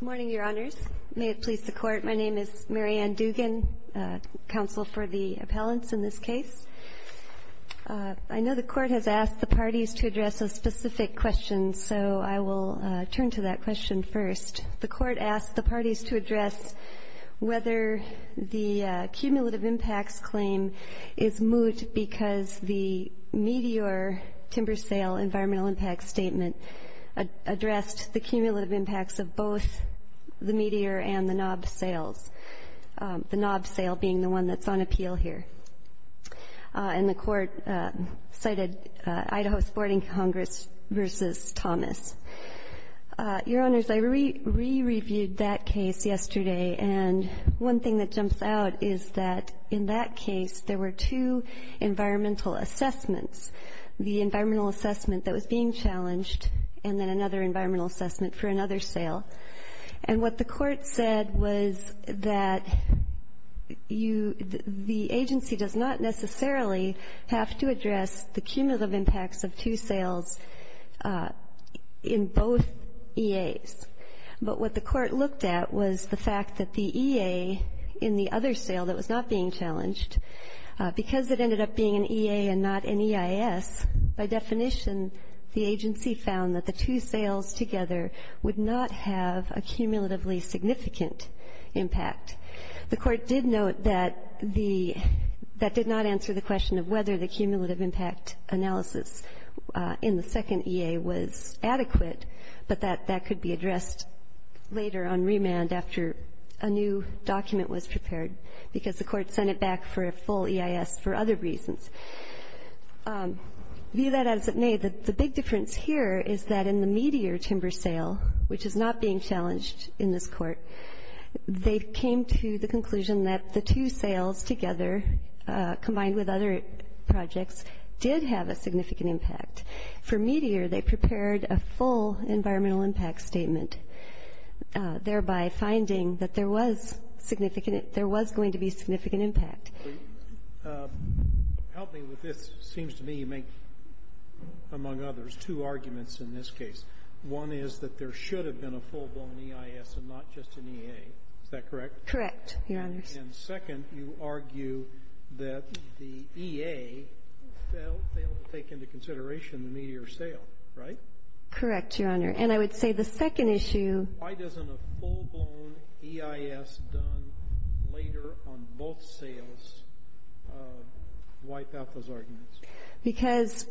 Good morning, Your Honors. May it please the Court, my name is Mary Ann Dugan, Counsel for the Appellants in this case. I know the Court has asked the parties to address a specific question so I will turn to that question first. The Court asked the parties to address whether the cumulative impacts claim is moot because the Meteor Timber Sale Environmental Impact Statement addressed the cumulative impacts of both the Meteor and the Knob Sales, the Knob Sale being the one that's on appeal here. And the Court cited Idaho's Boarding Congress v. Thomas. Your Honors, I re-reviewed that case yesterday and one thing that jumps out is that in that case there were two environmental assessments. The environmental assessment that was being challenged and then another environmental assessment for another sale. And what the Court said was that you, the agency does not necessarily have to address the cumulative impacts of two sales in both EAs. But what the Court looked at was the fact that the EA in the other sale that was not being challenged, because it ended up being an EA and not an EIS, by definition, the agency found that the two sales together would not have a cumulatively significant impact. The Court did note that the that did not answer the question of whether the cumulative impact analysis in the second EA was adequate, but that could be addressed later on remand after a new document was prepared, because the Court sent it back for a full EIS for other reasons. View that as it may, the big difference here is that in the Meteor timber sale, which is not being challenged in this Court, they came to the conclusion that the two sales together, combined with other projects, did have a significant impact. For Meteor, they prepared a full environmental impact statement, thereby finding that there was significant, there was going to be significant impact. Help me with this. It seems to me you make, among others, two arguments in this case. One is that there should have been a full-blown EIS and not just an EA. Is that correct? Correct, Your Honors. And second, you argue that the EA failed to take into consideration the Meteor sale, right? Correct, Your Honor. And I would say the second issue... Why doesn't a full-blown EIS done later on both sales wipe out those arguments? Because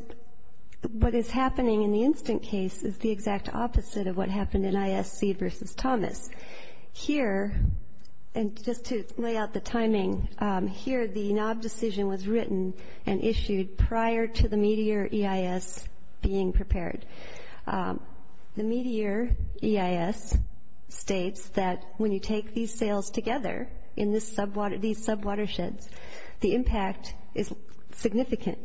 what is happening in the instant case is the exact opposite of what happened in ISC v. Thomas. Here, and just to lay out the timing, here the knob decision was written and issued prior to the Meteor EIS being prepared. The Meteor EIS states that when you take these sales together in these sub-watersheds, the impact is significant.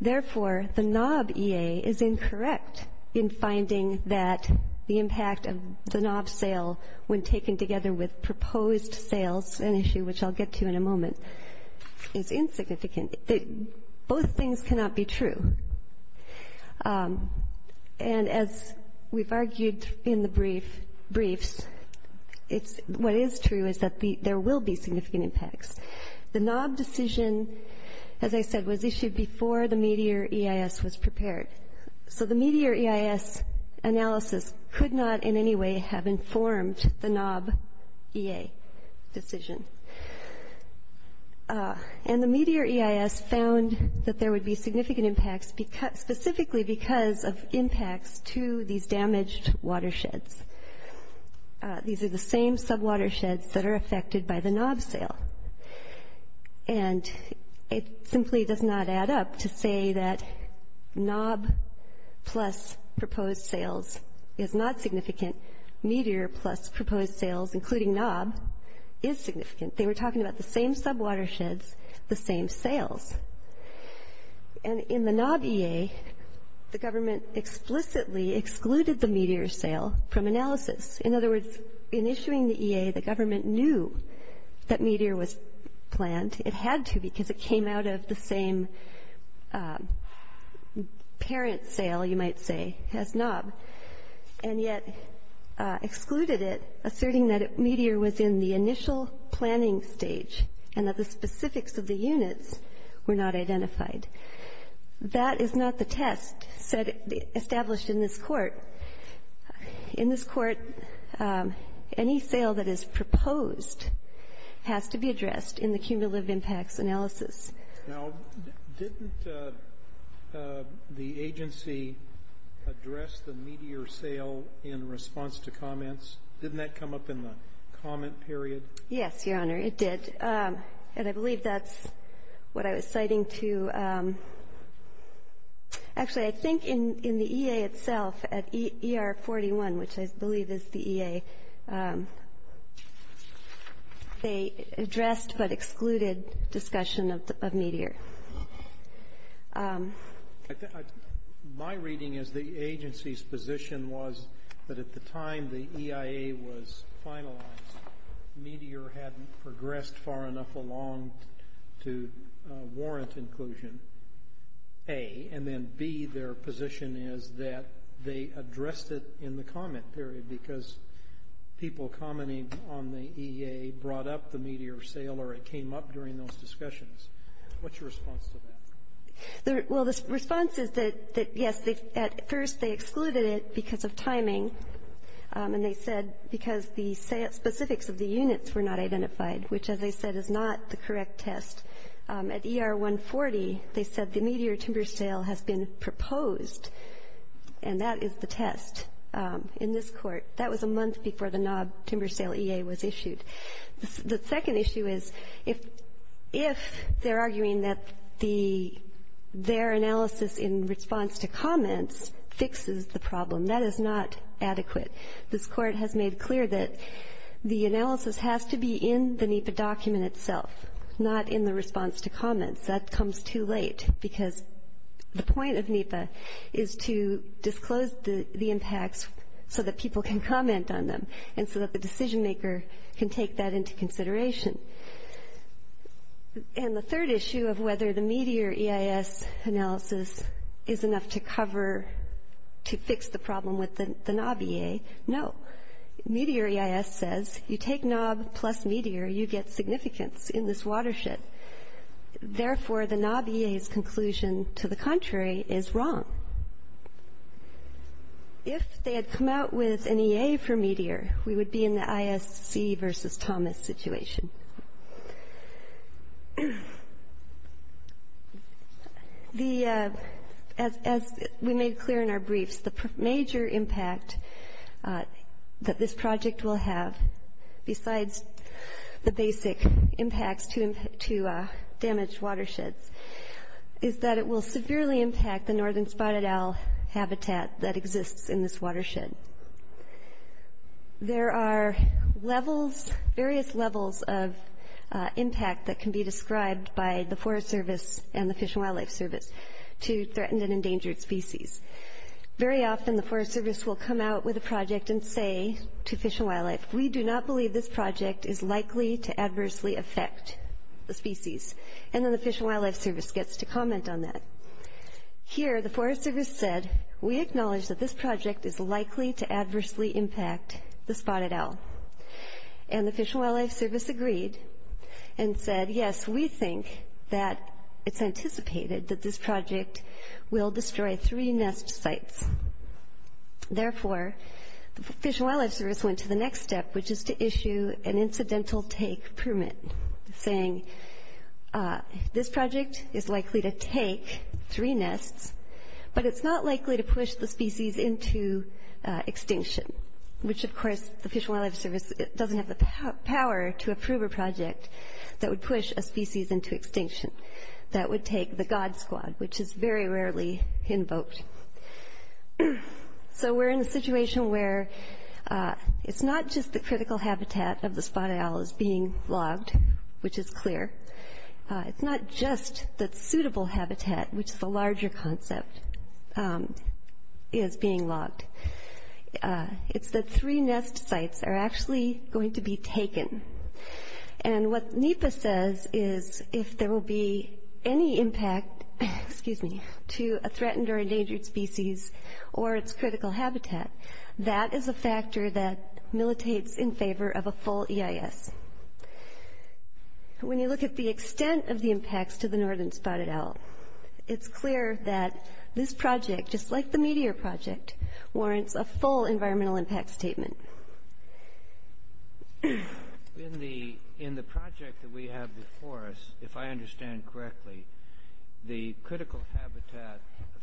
Therefore, the knob EA is incorrect in finding that the impact of the knob sale when taken together with the Meteor EIS. Both things cannot be true. And as we've argued in the briefs, what is true is that there will be significant impacts. The knob decision, as I said, was issued before the Meteor EIS was prepared. So the Meteor EIS analysis could not in any way have informed the knob EA decision. And the Meteor EIS found that there would be significant impacts specifically because of impacts to these damaged watersheds. These are the same sub-watersheds that are affected by the knob sale. And it simply does not add up to say that knob plus proposed sales is not significant. Meteor plus proposed sales, including knob, is significant. They were talking about the same sub-watersheds, the same sales. And in the knob EA, the government explicitly excluded the Meteor sale from analysis. In other words, in issuing the EA, the government knew that Meteor was planned. It had to because it came out of the same parent sale, you might say, as knob, and yet excluded it, asserting that Meteor was in the initial planning stage and that the specifics of the units were not identified. That is not the test established in this Court. In this Court, any sale that is proposed has to be addressed in the cumulative impacts analysis. Now, didn't the agency address the Meteor sale in response to comments? Didn't that come up in the comment period? Yes, Your Honor, it did. And I believe that's what I was citing to you. Actually, I think in the EA itself, at ER 41, which I believe is the EA, they addressed but excluded discussion of Meteor. My reading is the agency's position was that at the time the EIA was finalized, Meteor hadn't progressed far enough along to warrant inclusion, A. And then, B, their position is that they addressed it in the comment period because people commenting on the EA brought up the Meteor sale or it came up during those discussions. What's your response to that? Well, the response is that, yes, at first they excluded it because of timing, and they said because the specifics of the units were not identified, which, as I said, is not the correct test. At ER 140, they said the Meteor timber sale has been proposed, and that is the test in this Court. That was a month before the NOB timber sale EA was issued. The second issue is if they're arguing that their analysis in response to comments fixes the problem, that is not adequate. This Court has made clear that the analysis has to be in the NEPA document itself, not in the response to comments. That comes too the impacts so that people can comment on them and so that the decision maker can take that into consideration. And the third issue of whether the Meteor EIS analysis is enough to cover to fix the problem with the NOB EA, no. Meteor EIS says you take NOB plus Meteor, you get significance in this watershed. Therefore, the NOB EA's conclusion, to the contrary, is wrong. If they had come out with an EA for Meteor, we would be in the ISC versus Thomas situation. As we made clear in our briefs, the major impact that this project will have, besides the basic impacts to damaged watersheds, is that it will severely impact the northern spotted owl habitat that exists in this watershed. There are levels, various levels of impact that can be described by the Forest Service and the Fish and Wildlife Service to threatened and endangered species. Very often the Forest Service will come out with a project and say to Fish and Wildlife, we do not believe this project is likely to impact the spotted owl. Here, the Forest Service said, we acknowledge that this project is likely to adversely impact the spotted owl. And the Fish and Wildlife Service agreed and said, yes, we think that it's anticipated that this project will destroy three nest sites. Therefore, the Fish and Wildlife Service went to the next step, which is to issue an incidental take permit, saying this project is likely to take three nests and destroy three nests. But it's not likely to push the species into extinction, which of course the Fish and Wildlife Service doesn't have the power to approve a project that would push a species into extinction. That would take the god squad, which is very rarely invoked. So we're in a situation where it's not just the critical habitat of the spotted owl is being logged, which is clear. It's not just the suitable habitat, which is the larger concept, is being logged. It's that three nest sites are actually going to be taken. And what NEPA says is if there will be any impact, excuse me, to a threatened or endangered species or its critical habitat, that is a factor that militates in favor of a full EIS. And when you look at the extent of the impacts to the northern spotted owl, it's clear that this project, just like the meteor project, warrants a full environmental impact statement. In the project that we have before us, if I understand correctly, the critical habitat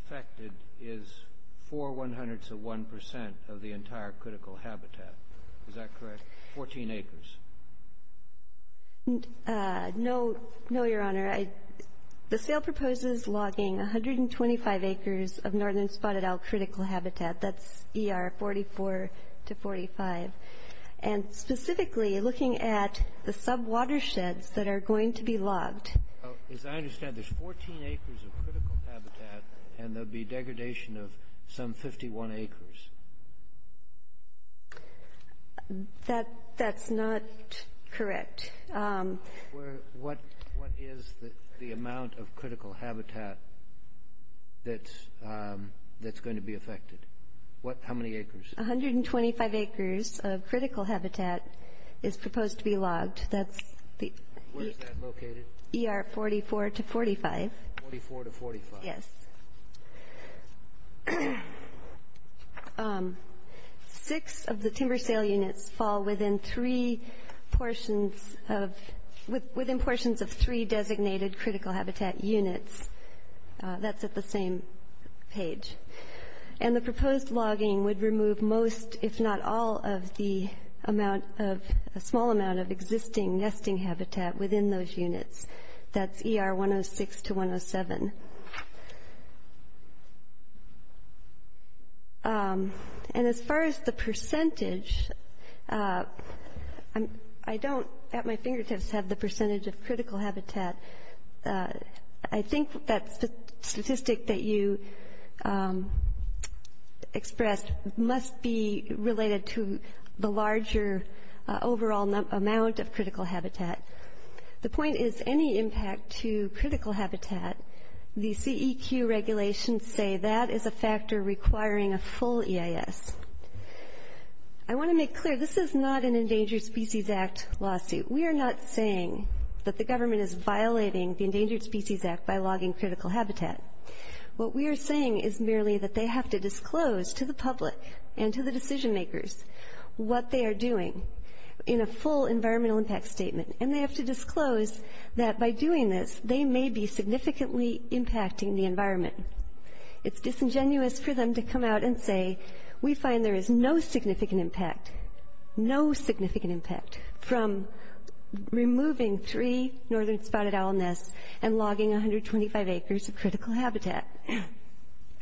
affected is four one-hundredths of one percent of the entire critical habitat. Is that correct? Fourteen acres. No, Your Honor. The sale proposes logging 125 acres of northern spotted owl critical habitat. That's ER 44 to 45. And specifically, looking at the sub-watersheds that are going to be logged. As I understand, there's 14 acres of critical habitat and there will be degradation of some 51 acres. That's not correct. What is the amount of critical habitat that's going to be affected? How many acres? 125 acres of critical habitat is proposed to be logged. Where is that located? ER 44 to 45. 44 to 45. Yes. Six of the timber sale units fall within three portions of, within portions of three designated critical habitat units. That's at the same page. And the proposed logging would remove most, if not all, of the amount of, a small amount of existing nesting habitat within those units. That's ER 106 to 107. And as far as the percentage, I don't at my fingertips have the percentage of critical habitat. I think that statistic that you expressed must be related to the larger overall amount of critical habitat. The point is any impact to critical habitat, the CEQ regulations say that is a factor requiring a full EIS. I want to make clear, this is not an Endangered Species Act lawsuit. We are not saying that the government is violating the Endangered Species Act by logging critical habitat. What we are saying is merely that they have to disclose to the public and to the decision makers what they are doing in a full environmental impact statement. And they have to disclose that by doing this, they may be significantly impacting the environment. It's disingenuous for them to come out and say, we find there is no significant impact, no significant impact from removing three northern spotted owl nests and logging 125 acres of critical habitat.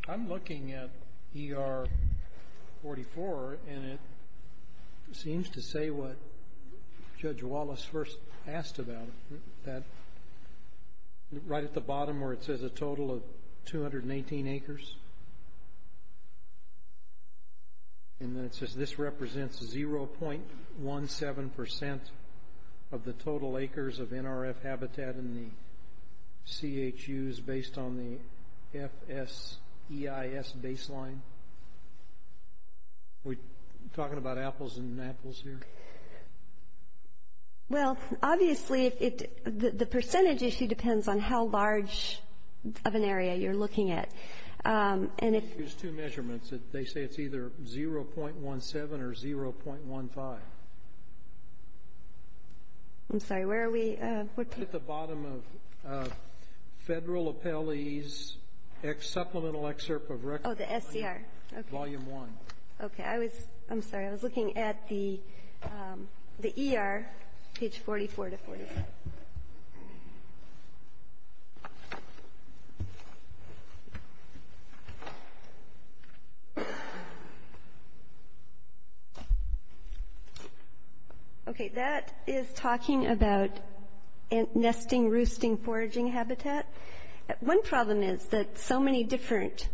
I'm looking at ER 44 and it seems to say what Judge Wallace first asked about, that right at the bottom where it says a total of 218 acres, and then it says this represents 0.17 percent of the total acres of NRF habitat in the CHUs based on the FSEIS baseline. Are we talking about apples and apples here? Well, obviously the percentage issue depends on how large of an area you are looking at. There's two measurements. They say it's either 0.17 or 0.15. I'm sorry, where are we? Right at the bottom of Federal Appellee's Supplemental Excerpt of Record. Oh, the SCR. Volume 1. Okay. I'm sorry. I was looking at the ER, page 44 to 45. Okay. That is talking about nesting, roosting, foraging habitat. One problem is that so many different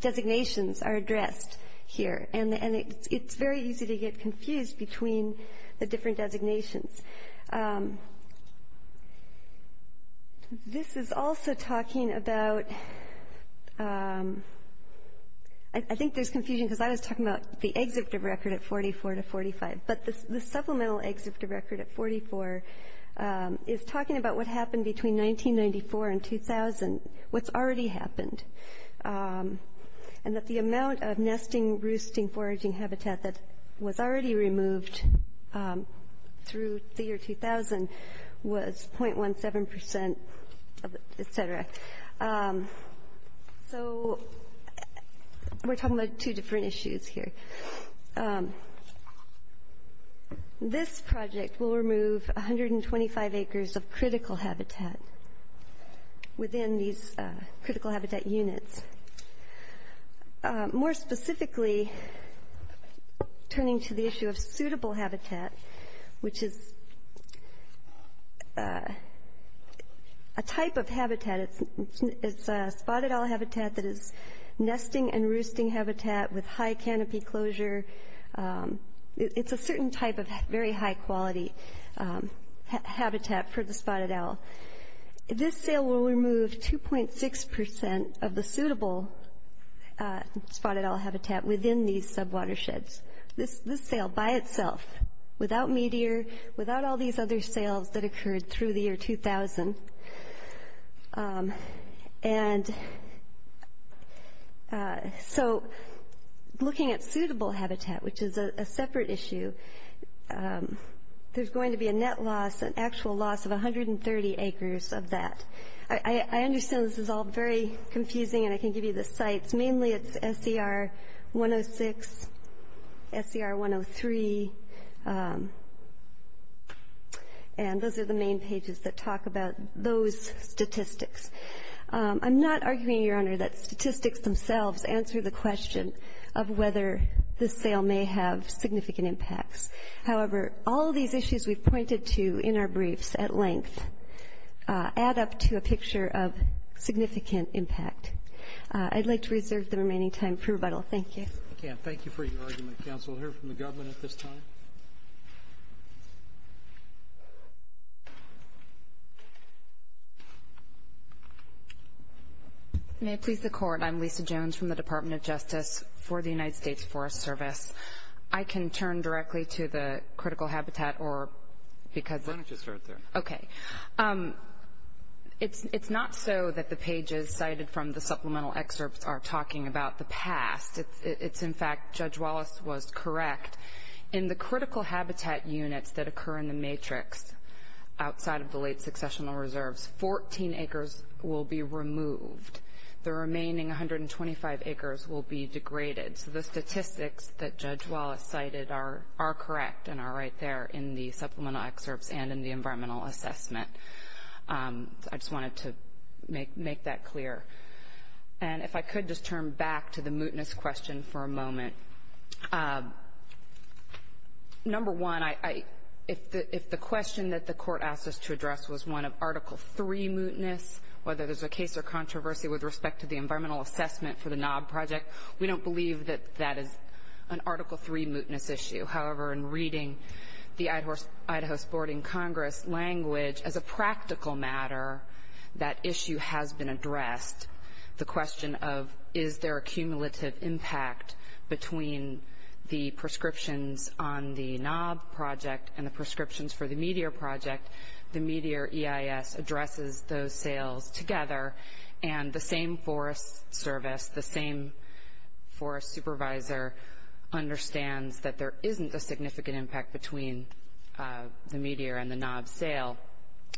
designations are addressed here and it's very easy to get confused between the different designations. This is also talking about, I think there's confusion because I was talking about the Excerpt of Record at 44 to 45, but the Supplemental Excerpt of Record at 44 is talking about what happened between 1994 and 2000, what's already happened, and that the amount of nesting, roosting, foraging habitat that was already removed through the year 2000 was 0.17%, et cetera. So we're talking about two different issues here. This project will remove 125 acres of critical habitat within these critical habitat units. More specifically, turning to the issue of suitable habitat, which is a type of habitat, it's spotted owl habitat that is nesting and roosting habitat with high canopy closure. It's a certain type of very high quality habitat for the spotted owl. This sale will remove 2.6% of the suitable spotted owl habitat within these sub-watersheds. This sale by itself, without Meteor, without all these other sales that occurred through the year 2000. So looking at suitable habitat, which is a separate issue, there's going to be a net loss, an actual loss of 130 acres of that. I understand this is all very confusing, and I can give you the sites. Mainly it's SER 106, SER 103, and those are the main pages that talk about those statistics. I'm not arguing, Your Honor, that statistics themselves answer the question of whether this sale may have significant impacts. However, all these issues we've pointed to in our briefs at length add up to a picture of significant impact. I'd like to reserve the remaining time for rebuttal. Thank you. Again, thank you for your argument, counsel. We'll hear from the government at this time. May it please the Court, I'm Lisa Jones from the Department of Justice for the United States Forest Service. I can turn directly to the critical habitat or because of. Okay. It's not so that the pages cited from the supplemental excerpts are talking about the past. It's, in fact, Judge Wallace was correct. In the critical habitat units that occur in the matrix outside of the late successional reserves, 14 acres will be removed. The remaining 125 acres will be degraded. So the statistics that Judge Wallace cited are correct and are right there in the supplemental excerpts and in the environmental assessment. I just wanted to make that clear. And if I could just turn back to the mootness question for a moment. Number one, if the question that the Court asked us to address was one of Article III mootness, whether there's a case or controversy with respect to the environmental assessment for the Knob Project, we don't believe that that is an Article III mootness issue. However, in reading the Idaho Boarding Congress language, as a practical matter, that issue has been addressed. The question of is there a cumulative impact between the prescriptions on the Knob Project and the prescriptions for the Meteor Project, the Meteor EIS addresses those sales together. And the same forest service, the same forest supervisor, understands that there isn't a significant impact between the Meteor and the Knob sale.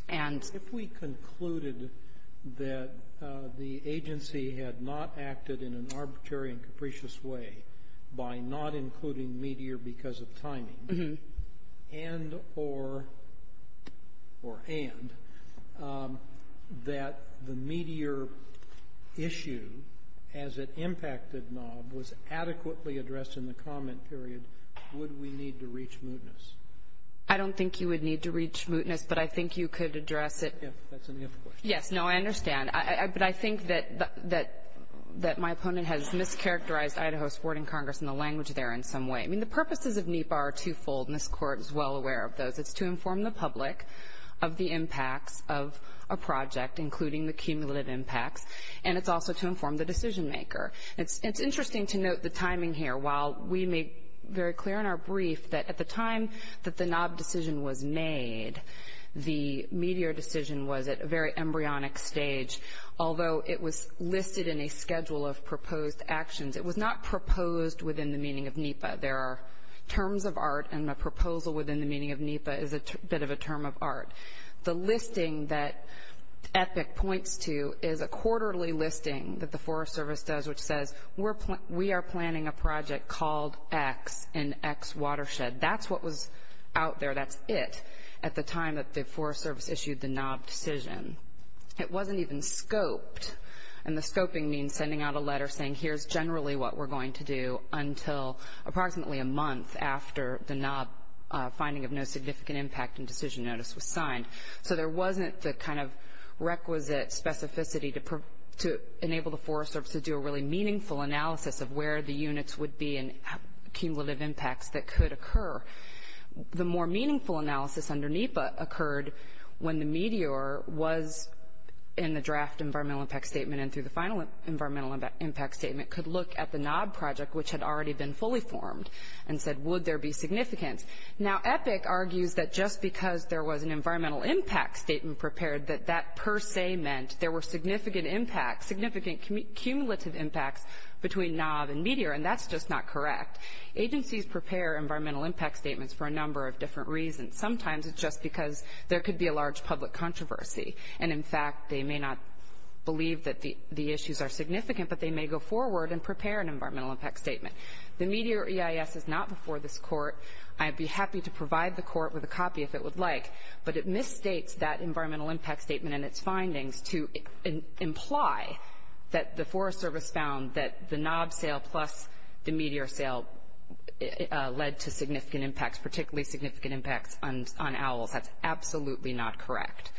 If we concluded that the agency had not acted in an arbitrary and capricious way by not including Meteor because of timing, and that the Meteor issue as it impacted Knob was adequately addressed in the comment period, would we need to reach mootness? I don't think you would need to reach mootness, but I think you could address it. Yes, no, I understand. But I think that my opponent has mischaracterized Idaho's Boarding Congress and the language there in some way. I mean, the purposes of NEPA are twofold, and this Court is well aware of those. It's to inform the public of the impacts of a project, including the cumulative impacts, and it's also to inform the decision maker. It's interesting to note the timing here. While we made very clear in our brief that at the time that the Knob decision was made, the Meteor decision was at a very embryonic stage, although it was listed in a schedule of proposed actions. It was not proposed within the meaning of NEPA. There are terms of art, and a proposal within the meaning of NEPA is a bit of a term of art. The listing that EPIC points to is a quarterly listing that the Forest Service does, which says we are planning a project called X in X watershed. That's what was out there. That's it at the time that the Forest Service issued the Knob decision. It wasn't even scoped, and the scoping means sending out a letter saying here's generally what we're going to do until approximately a month after the Knob finding of no significant impact and decision notice was signed. So there wasn't the kind of requisite specificity to enable the Forest Service to do a really meaningful analysis of where the units would be and cumulative impacts that could occur. The more meaningful analysis under NEPA occurred when the Meteor was in the draft environmental impact statement and through the final environmental impact statement could look at the Knob project, which had already been fully formed, and said would there be significance. Now EPIC argues that just because there was an environmental impact statement prepared, that that per se meant there were significant impacts, significant cumulative impacts between Knob and Meteor, and that's just not correct. Agencies prepare environmental impact statements for a number of different reasons. Sometimes it's just because there could be a large public controversy, and in fact they may not believe that the issues are significant, but they may go forward and prepare an environmental impact statement. The Meteor EIS is not before this Court. I'd be happy to provide the Court with a copy if it would like, but it misstates that environmental impact statement and its findings to imply that the Forest Service found that the Knob sale plus the Meteor sale led to significant impacts, particularly significant impacts on owls. That's absolutely not correct.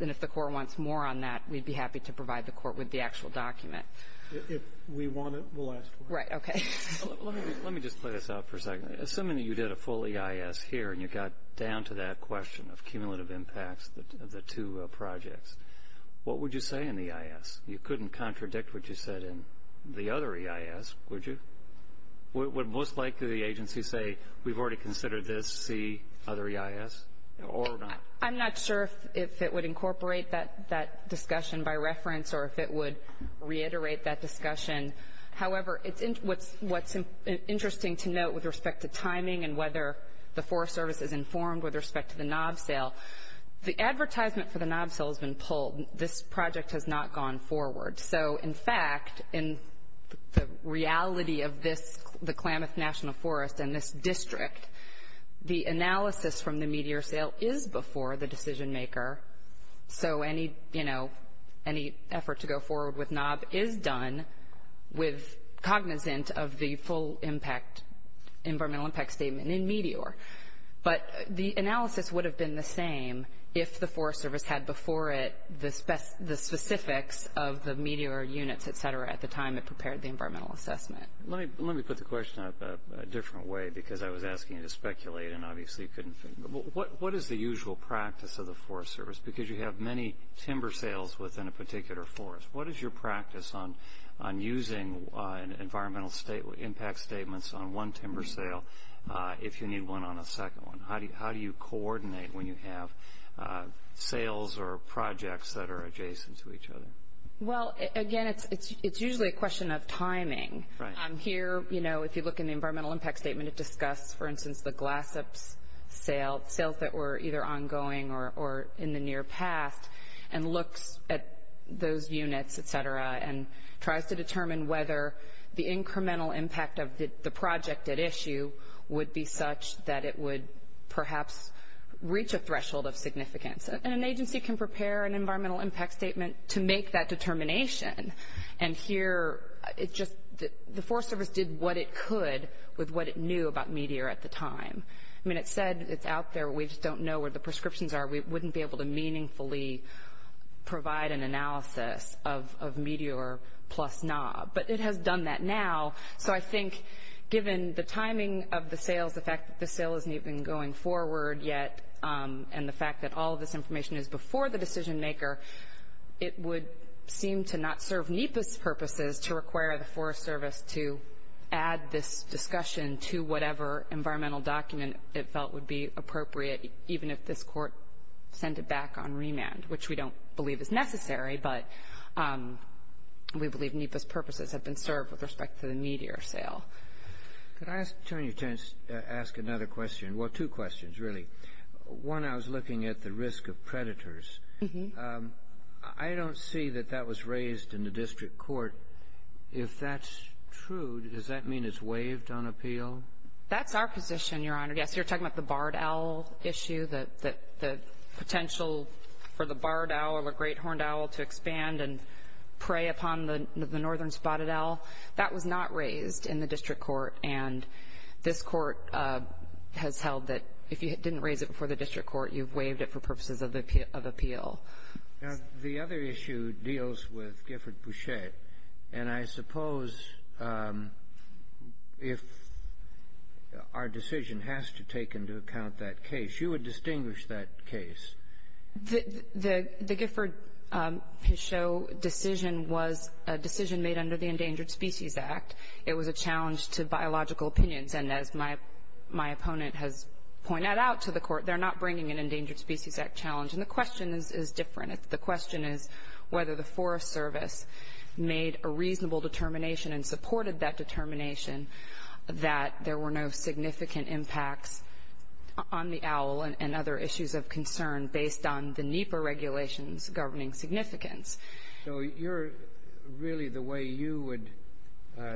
And if the Court wants more on that, we'd be happy to provide the Court with the actual document. If we want it, we'll ask for it. Right, okay. Let me just play this out for a second. Assuming you did a full EIS here and you got down to that question of cumulative impacts of the two projects, what would you say in the EIS? You couldn't contradict what you said in the other EIS, would you? Would most likely the agency say, we've already considered this, see other EIS, or not? I'm not sure if it would incorporate that discussion by reference or if it would reiterate that discussion. However, what's interesting to note with respect to timing and whether the Forest Service is informed with respect to the Knob sale, the advertisement for the Knob sale has been pulled. This project has not gone forward. So, in fact, in the reality of this, the Klamath National Forest and this district, the analysis from the Meteor sale is before the decision maker, so any effort to go forward with Knob is done cognizant of the full environmental impact statement in Meteor. But the analysis would have been the same if the Forest Service had before it the specifics of the Meteor units, et cetera, at the time it prepared the environmental assessment. Let me put the question a different way because I was asking you to speculate and obviously you couldn't figure it out. What is the usual practice of the Forest Service? Because you have many timber sales within a particular forest. What is your practice on using environmental impact statements on one timber sale if you need one on a second one? How do you coordinate when you have sales or projects that are adjacent to each other? Well, again, it's usually a question of timing. Here, you know, if you look in the environmental impact statement, it discusses, for instance, the Glassop's sale, sales that were either ongoing or in the near past, and looks at those units, et cetera, and tries to determine whether the incremental impact of the project at issue would be such that it would perhaps reach a threshold of significance. And an agency can prepare an environmental impact statement to make that determination. And here, the Forest Service did what it could with what it knew about Meteor at the time. I mean, it said it's out there. We just don't know where the prescriptions are. We wouldn't be able to meaningfully provide an analysis of Meteor plus Knob. But it has done that now. So I think given the timing of the sales, the fact that the sale isn't even going forward yet, and the fact that all of this information is before the decision maker, it would seem to not serve NEPA's purposes to require the Forest Service to add this discussion to whatever environmental document it felt would be appropriate, even if this court sent it back on remand, which we don't believe is necessary, but we believe NEPA's purposes have been served with respect to the Meteor sale. Could I turn you to ask another question? Well, two questions, really. One, I was looking at the risk of predators. I don't see that that was raised in the district court. If that's true, does that mean it's waived on appeal? That's our position, Your Honor. Yes, you're talking about the barred owl issue, the potential for the barred owl or great horned owl to expand and prey upon the northern spotted owl. That was not raised in the district court, and this court has held that if you didn't raise it before the district court, you've waived it for purposes of appeal. The other issue deals with Gifford-Boucher, and I suppose if our decision has to take into account that case, you would distinguish that case. The Gifford-Boucher decision was a decision made under the Endangered Species Act. It was a challenge to biological opinions, and as my opponent has pointed out to the court, they're not bringing an Endangered Species Act challenge. And the question is different. The question is whether the Forest Service made a reasonable determination and supported that determination that there were no significant impacts on the owl and other issues of concern based on the NEPA regulations governing significance. So really the way you would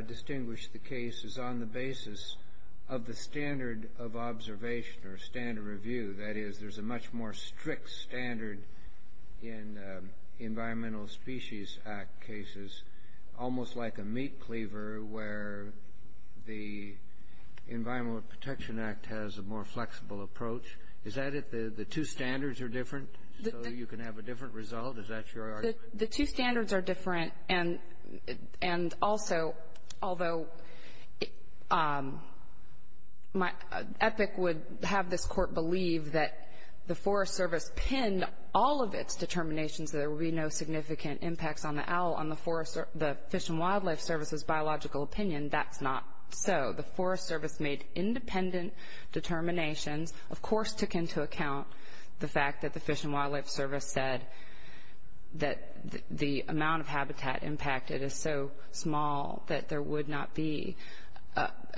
distinguish the case is on the basis of the standard of observation or standard review. That is, there's a much more strict standard in Environmental Species Act cases, almost like a meat cleaver where the Environmental Protection Act has a more flexible approach. Is that it? The two standards are different, so you can have a different result? Is that your argument? The two standards are different. And also, although EPIC would have this court believe that the Forest Service pinned all of its determinations that there would be no significant impacts on the owl on the Fish and Wildlife Service's biological opinion, that's not so. The Forest Service made independent determinations, of course, took into account the fact that the Fish and Wildlife Service said that the amount of habitat impacted is so small that there would not be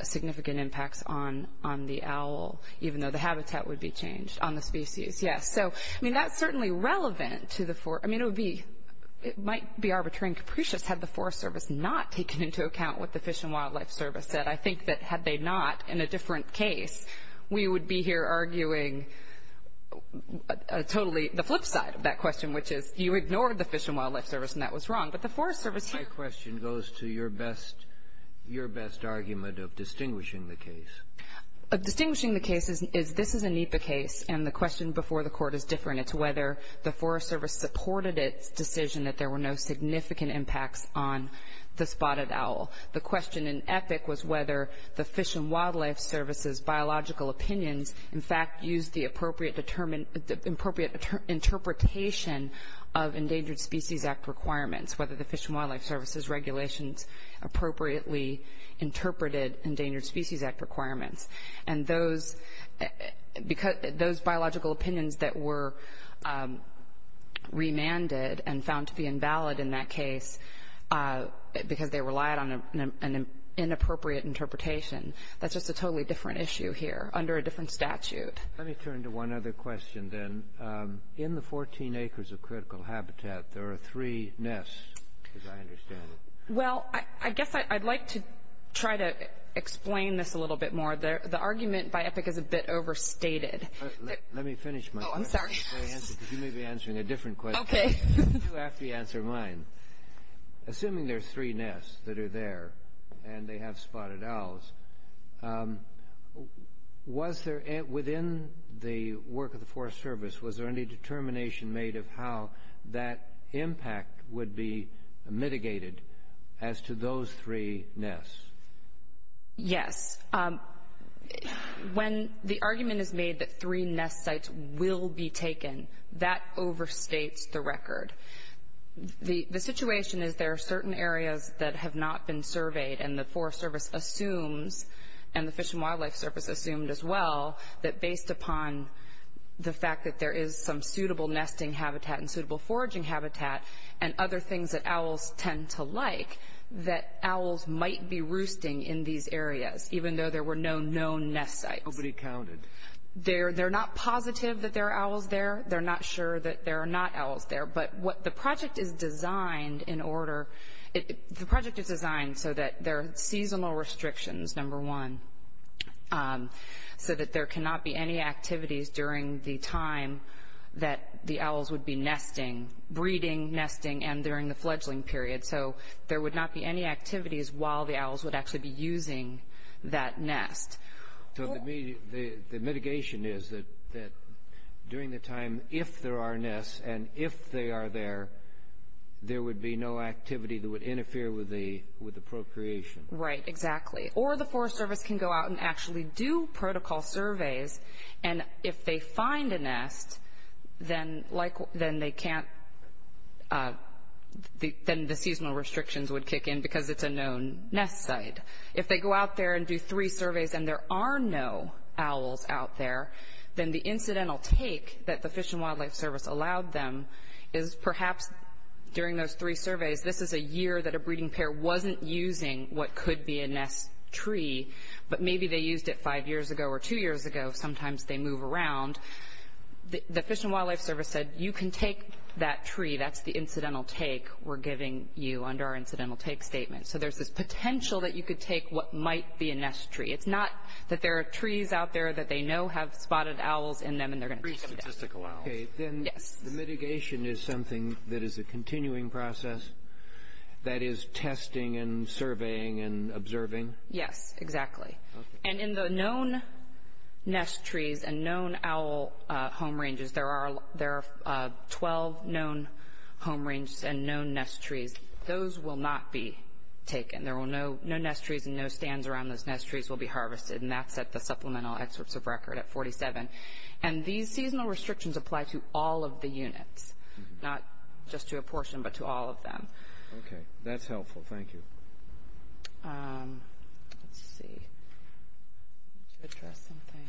significant impacts on the owl, even though the habitat would be changed on the species. Yes. So, I mean, that's certainly relevant to the Forest Service. I mean, it might be arbitrary and capricious had the Forest Service not taken into account what the Fish and Wildlife Service said. But I think that had they not, in a different case, we would be here arguing totally the flip side of that question, which is you ignored the Fish and Wildlife Service, and that was wrong. But the Forest Service here… My question goes to your best argument of distinguishing the case. Distinguishing the case is this is a NEPA case, and the question before the court is different. It's whether the Forest Service supported its decision that there were no significant impacts on the spotted owl. The question in EPIC was whether the Fish and Wildlife Service's biological opinions, in fact, used the appropriate interpretation of Endangered Species Act requirements, whether the Fish and Wildlife Service's regulations appropriately interpreted Endangered Species Act requirements. And those biological opinions that were remanded and found to be invalid in that case, because they relied on an inappropriate interpretation, that's just a totally different issue here under a different statute. Let me turn to one other question, then. In the 14 acres of critical habitat, there are three nests, as I understand it. Well, I guess I'd like to try to explain this a little bit more. The argument by EPIC is a bit overstated. Let me finish my answer, because you may be answering a different question. Okay. You have to answer mine. Assuming there are three nests that are there and they have spotted owls, within the work of the Forest Service, was there any determination made of how that impact would be mitigated as to those three nests? Yes. When the argument is made that three nest sites will be taken, that overstates the record. The situation is there are certain areas that have not been surveyed, and the Forest Service assumes, and the Fish and Wildlife Service assumed as well, that based upon the fact that there is some suitable nesting habitat and suitable foraging habitat and other things that owls tend to like, that owls might be roosting in these areas, even though there were no known nest sites. Nobody counted. They're not positive that there are owls there. They're not sure that there are not owls there. But what the project is designed in order – the project is designed so that there are seasonal restrictions, number one, so that there cannot be any activities during the time that the owls would be nesting, breeding, nesting, and during the fledgling period. So there would not be any activities while the owls would actually be using that nest. So the mitigation is that during the time, if there are nests, and if they are there, there would be no activity that would interfere with the procreation. Right, exactly. Or the Forest Service can go out and actually do protocol surveys, and if they find a nest, then they can't – then the seasonal restrictions would kick in because it's a known nest site. If they go out there and do three surveys and there are no owls out there, then the incidental take that the Fish and Wildlife Service allowed them is perhaps during those three surveys, this is a year that a breeding pair wasn't using what could be a nest tree, but maybe they used it five years ago or two years ago. Sometimes they move around. The Fish and Wildlife Service said, you can take that tree. That's the incidental take we're giving you under our incidental take statement. So there's this potential that you could take what might be a nest tree. It's not that there are trees out there that they know have spotted owls in them and they're going to take them. Okay, then the mitigation is something that is a continuing process, that is testing and surveying and observing? Yes, exactly. Okay. And in the known nest trees and known owl home ranges, there are 12 known home ranges and known nest trees. Those will not be taken. There will – no nest trees and no stands around those nest trees will be harvested, and that's at the supplemental excerpts of record at 47. And these seasonal restrictions apply to all of the units, not just to a portion but to all of them. Okay, that's helpful. Thank you. Let's see. I need to address something.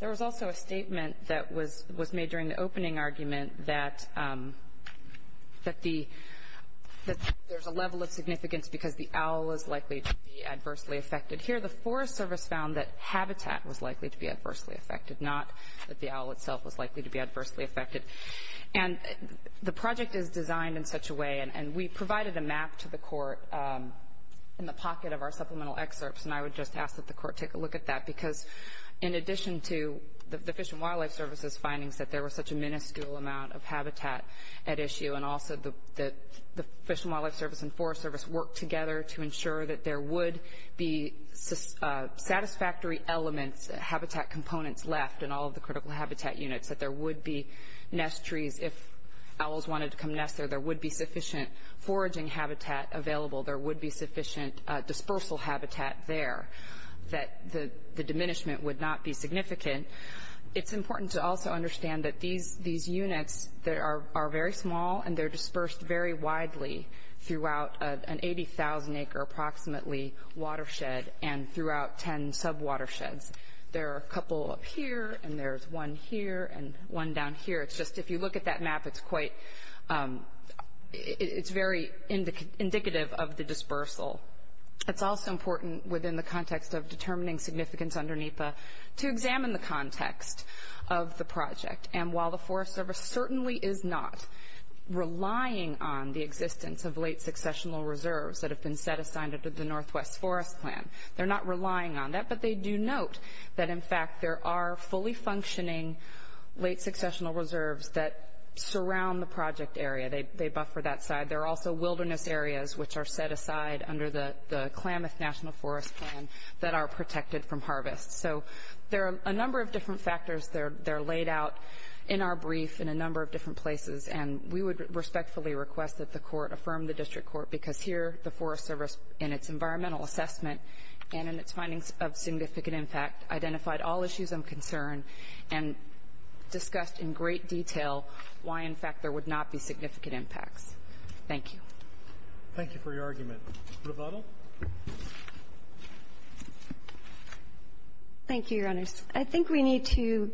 There was also a statement that was made during the opening argument that there's a level of significance because the owl is likely to be adversely affected. Here the Forest Service found that habitat was likely to be adversely affected, not that the owl itself was likely to be adversely affected. And the project is designed in such a way, and we provided a map to the court in the pocket of our supplemental excerpts, and I would just ask that the court take a look at that because in addition to the Fish and Wildlife Service's findings that there was such a minuscule amount of habitat at issue and also the Fish and Wildlife Service and Forest Service worked together to ensure that there would be satisfactory elements, habitat components left in all of the critical habitat units, that there would be nest trees if owls wanted to come nest there, there would be sufficient foraging habitat available, there would be sufficient dispersal habitat there, that the diminishment would not be significant. It's important to also understand that these units that are very small and they're dispersed very widely throughout an 80,000-acre approximately watershed and throughout 10 sub-watersheds. There are a couple up here and there's one here and one down here. It's just if you look at that map, it's very indicative of the dispersal. It's also important within the context of determining significance under NEPA to examine the context of the project. And while the Forest Service certainly is not relying on the existence of late successional reserves that have been set aside under the Northwest Forest Plan, they're not relying on that, but they do note that, in fact, there are fully functioning late successional reserves that surround the project area. They buffer that side. There are also wilderness areas which are set aside under the Klamath National Forest Plan that are protected from harvest. So there are a number of different factors that are laid out in our brief in a number of different places, and we would respectfully request that the court affirm the district court because here the Forest Service, in its environmental assessment and in its findings of significant impact, identified all issues of concern and discussed in great detail why, in fact, there would not be significant impacts. Thank you. Thank you for your argument. Revato? Thank you, Your Honors. I think we need to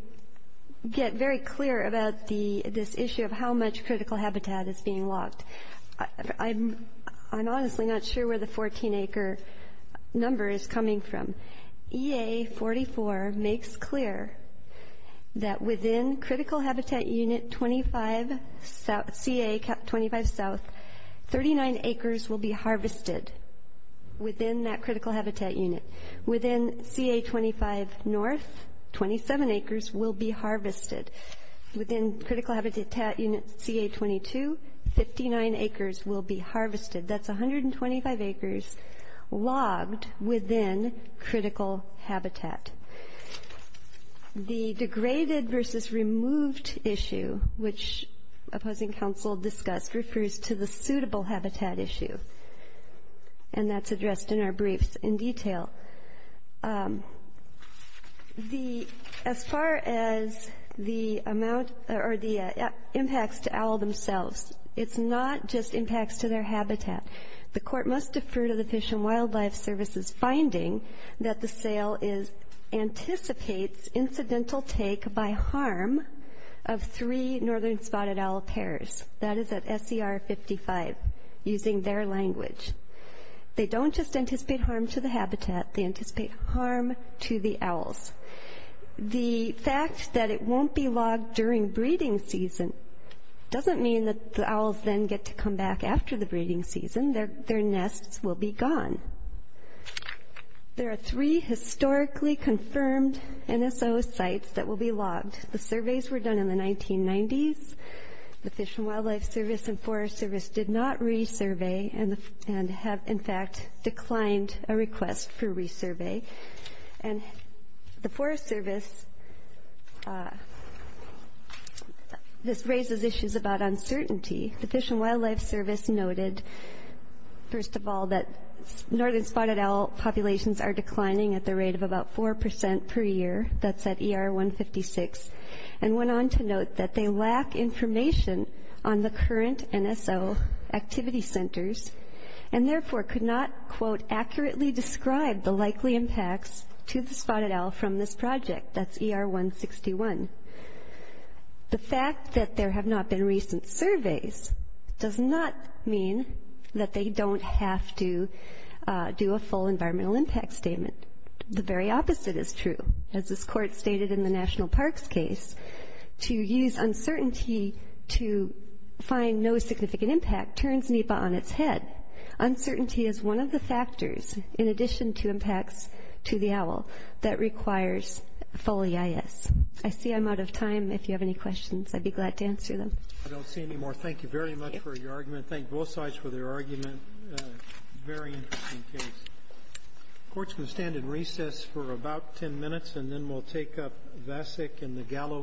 get very clear about this issue of how much critical habitat is being locked. I'm honestly not sure where the 14-acre number is coming from. EA44 makes clear that within critical habitat unit CA25 South, 39 acres will be harvested within that critical habitat unit. Within CA25 North, 27 acres will be harvested. Within critical habitat unit CA22, 59 acres will be harvested. That's 125 acres logged within critical habitat. The degraded versus removed issue, which opposing counsel discussed, refers to the suitable habitat issue, and that's addressed in our briefs in detail. As far as the impacts to owl themselves, it's not just impacts to their habitat. The court must defer to the Fish and Wildlife Service's finding that the sale anticipates incidental take by harm of three northern spotted owl pairs. That is at SCR55, using their language. They don't just anticipate harm to the habitat. They anticipate harm to the owls. The fact that it won't be logged during breeding season doesn't mean that the owls then get to come back after the breeding season. Their nests will be gone. There are three historically confirmed NSO sites that will be logged. The surveys were done in the 1990s. The Fish and Wildlife Service and Forest Service did not resurvey, and have, in fact, declined a request for resurvey. And the Forest Service raises issues about uncertainty. The Fish and Wildlife Service noted, first of all, that northern spotted owl populations are declining at the rate of about 4% per year. That's at ER156. And went on to note that they lack information on the current NSO activity centers, and therefore could not, quote, accurately describe the likely impacts to the spotted owl from this project. That's ER161. The fact that there have not been recent surveys does not mean that they don't have to do a full environmental impact statement. The very opposite is true. As this Court stated in the National Parks case, to use uncertainty to find no significant impact turns NEPA on its head. Uncertainty is one of the factors, in addition to impacts to the owl, that requires FOLEIS. I see I'm out of time. If you have any questions, I'd be glad to answer them. I don't see any more. Thank you very much for your argument. Thank both sides for their argument. Very interesting case. The Court's going to stand in recess for about 10 minutes, and then we'll take up Vasek and the Gallo case.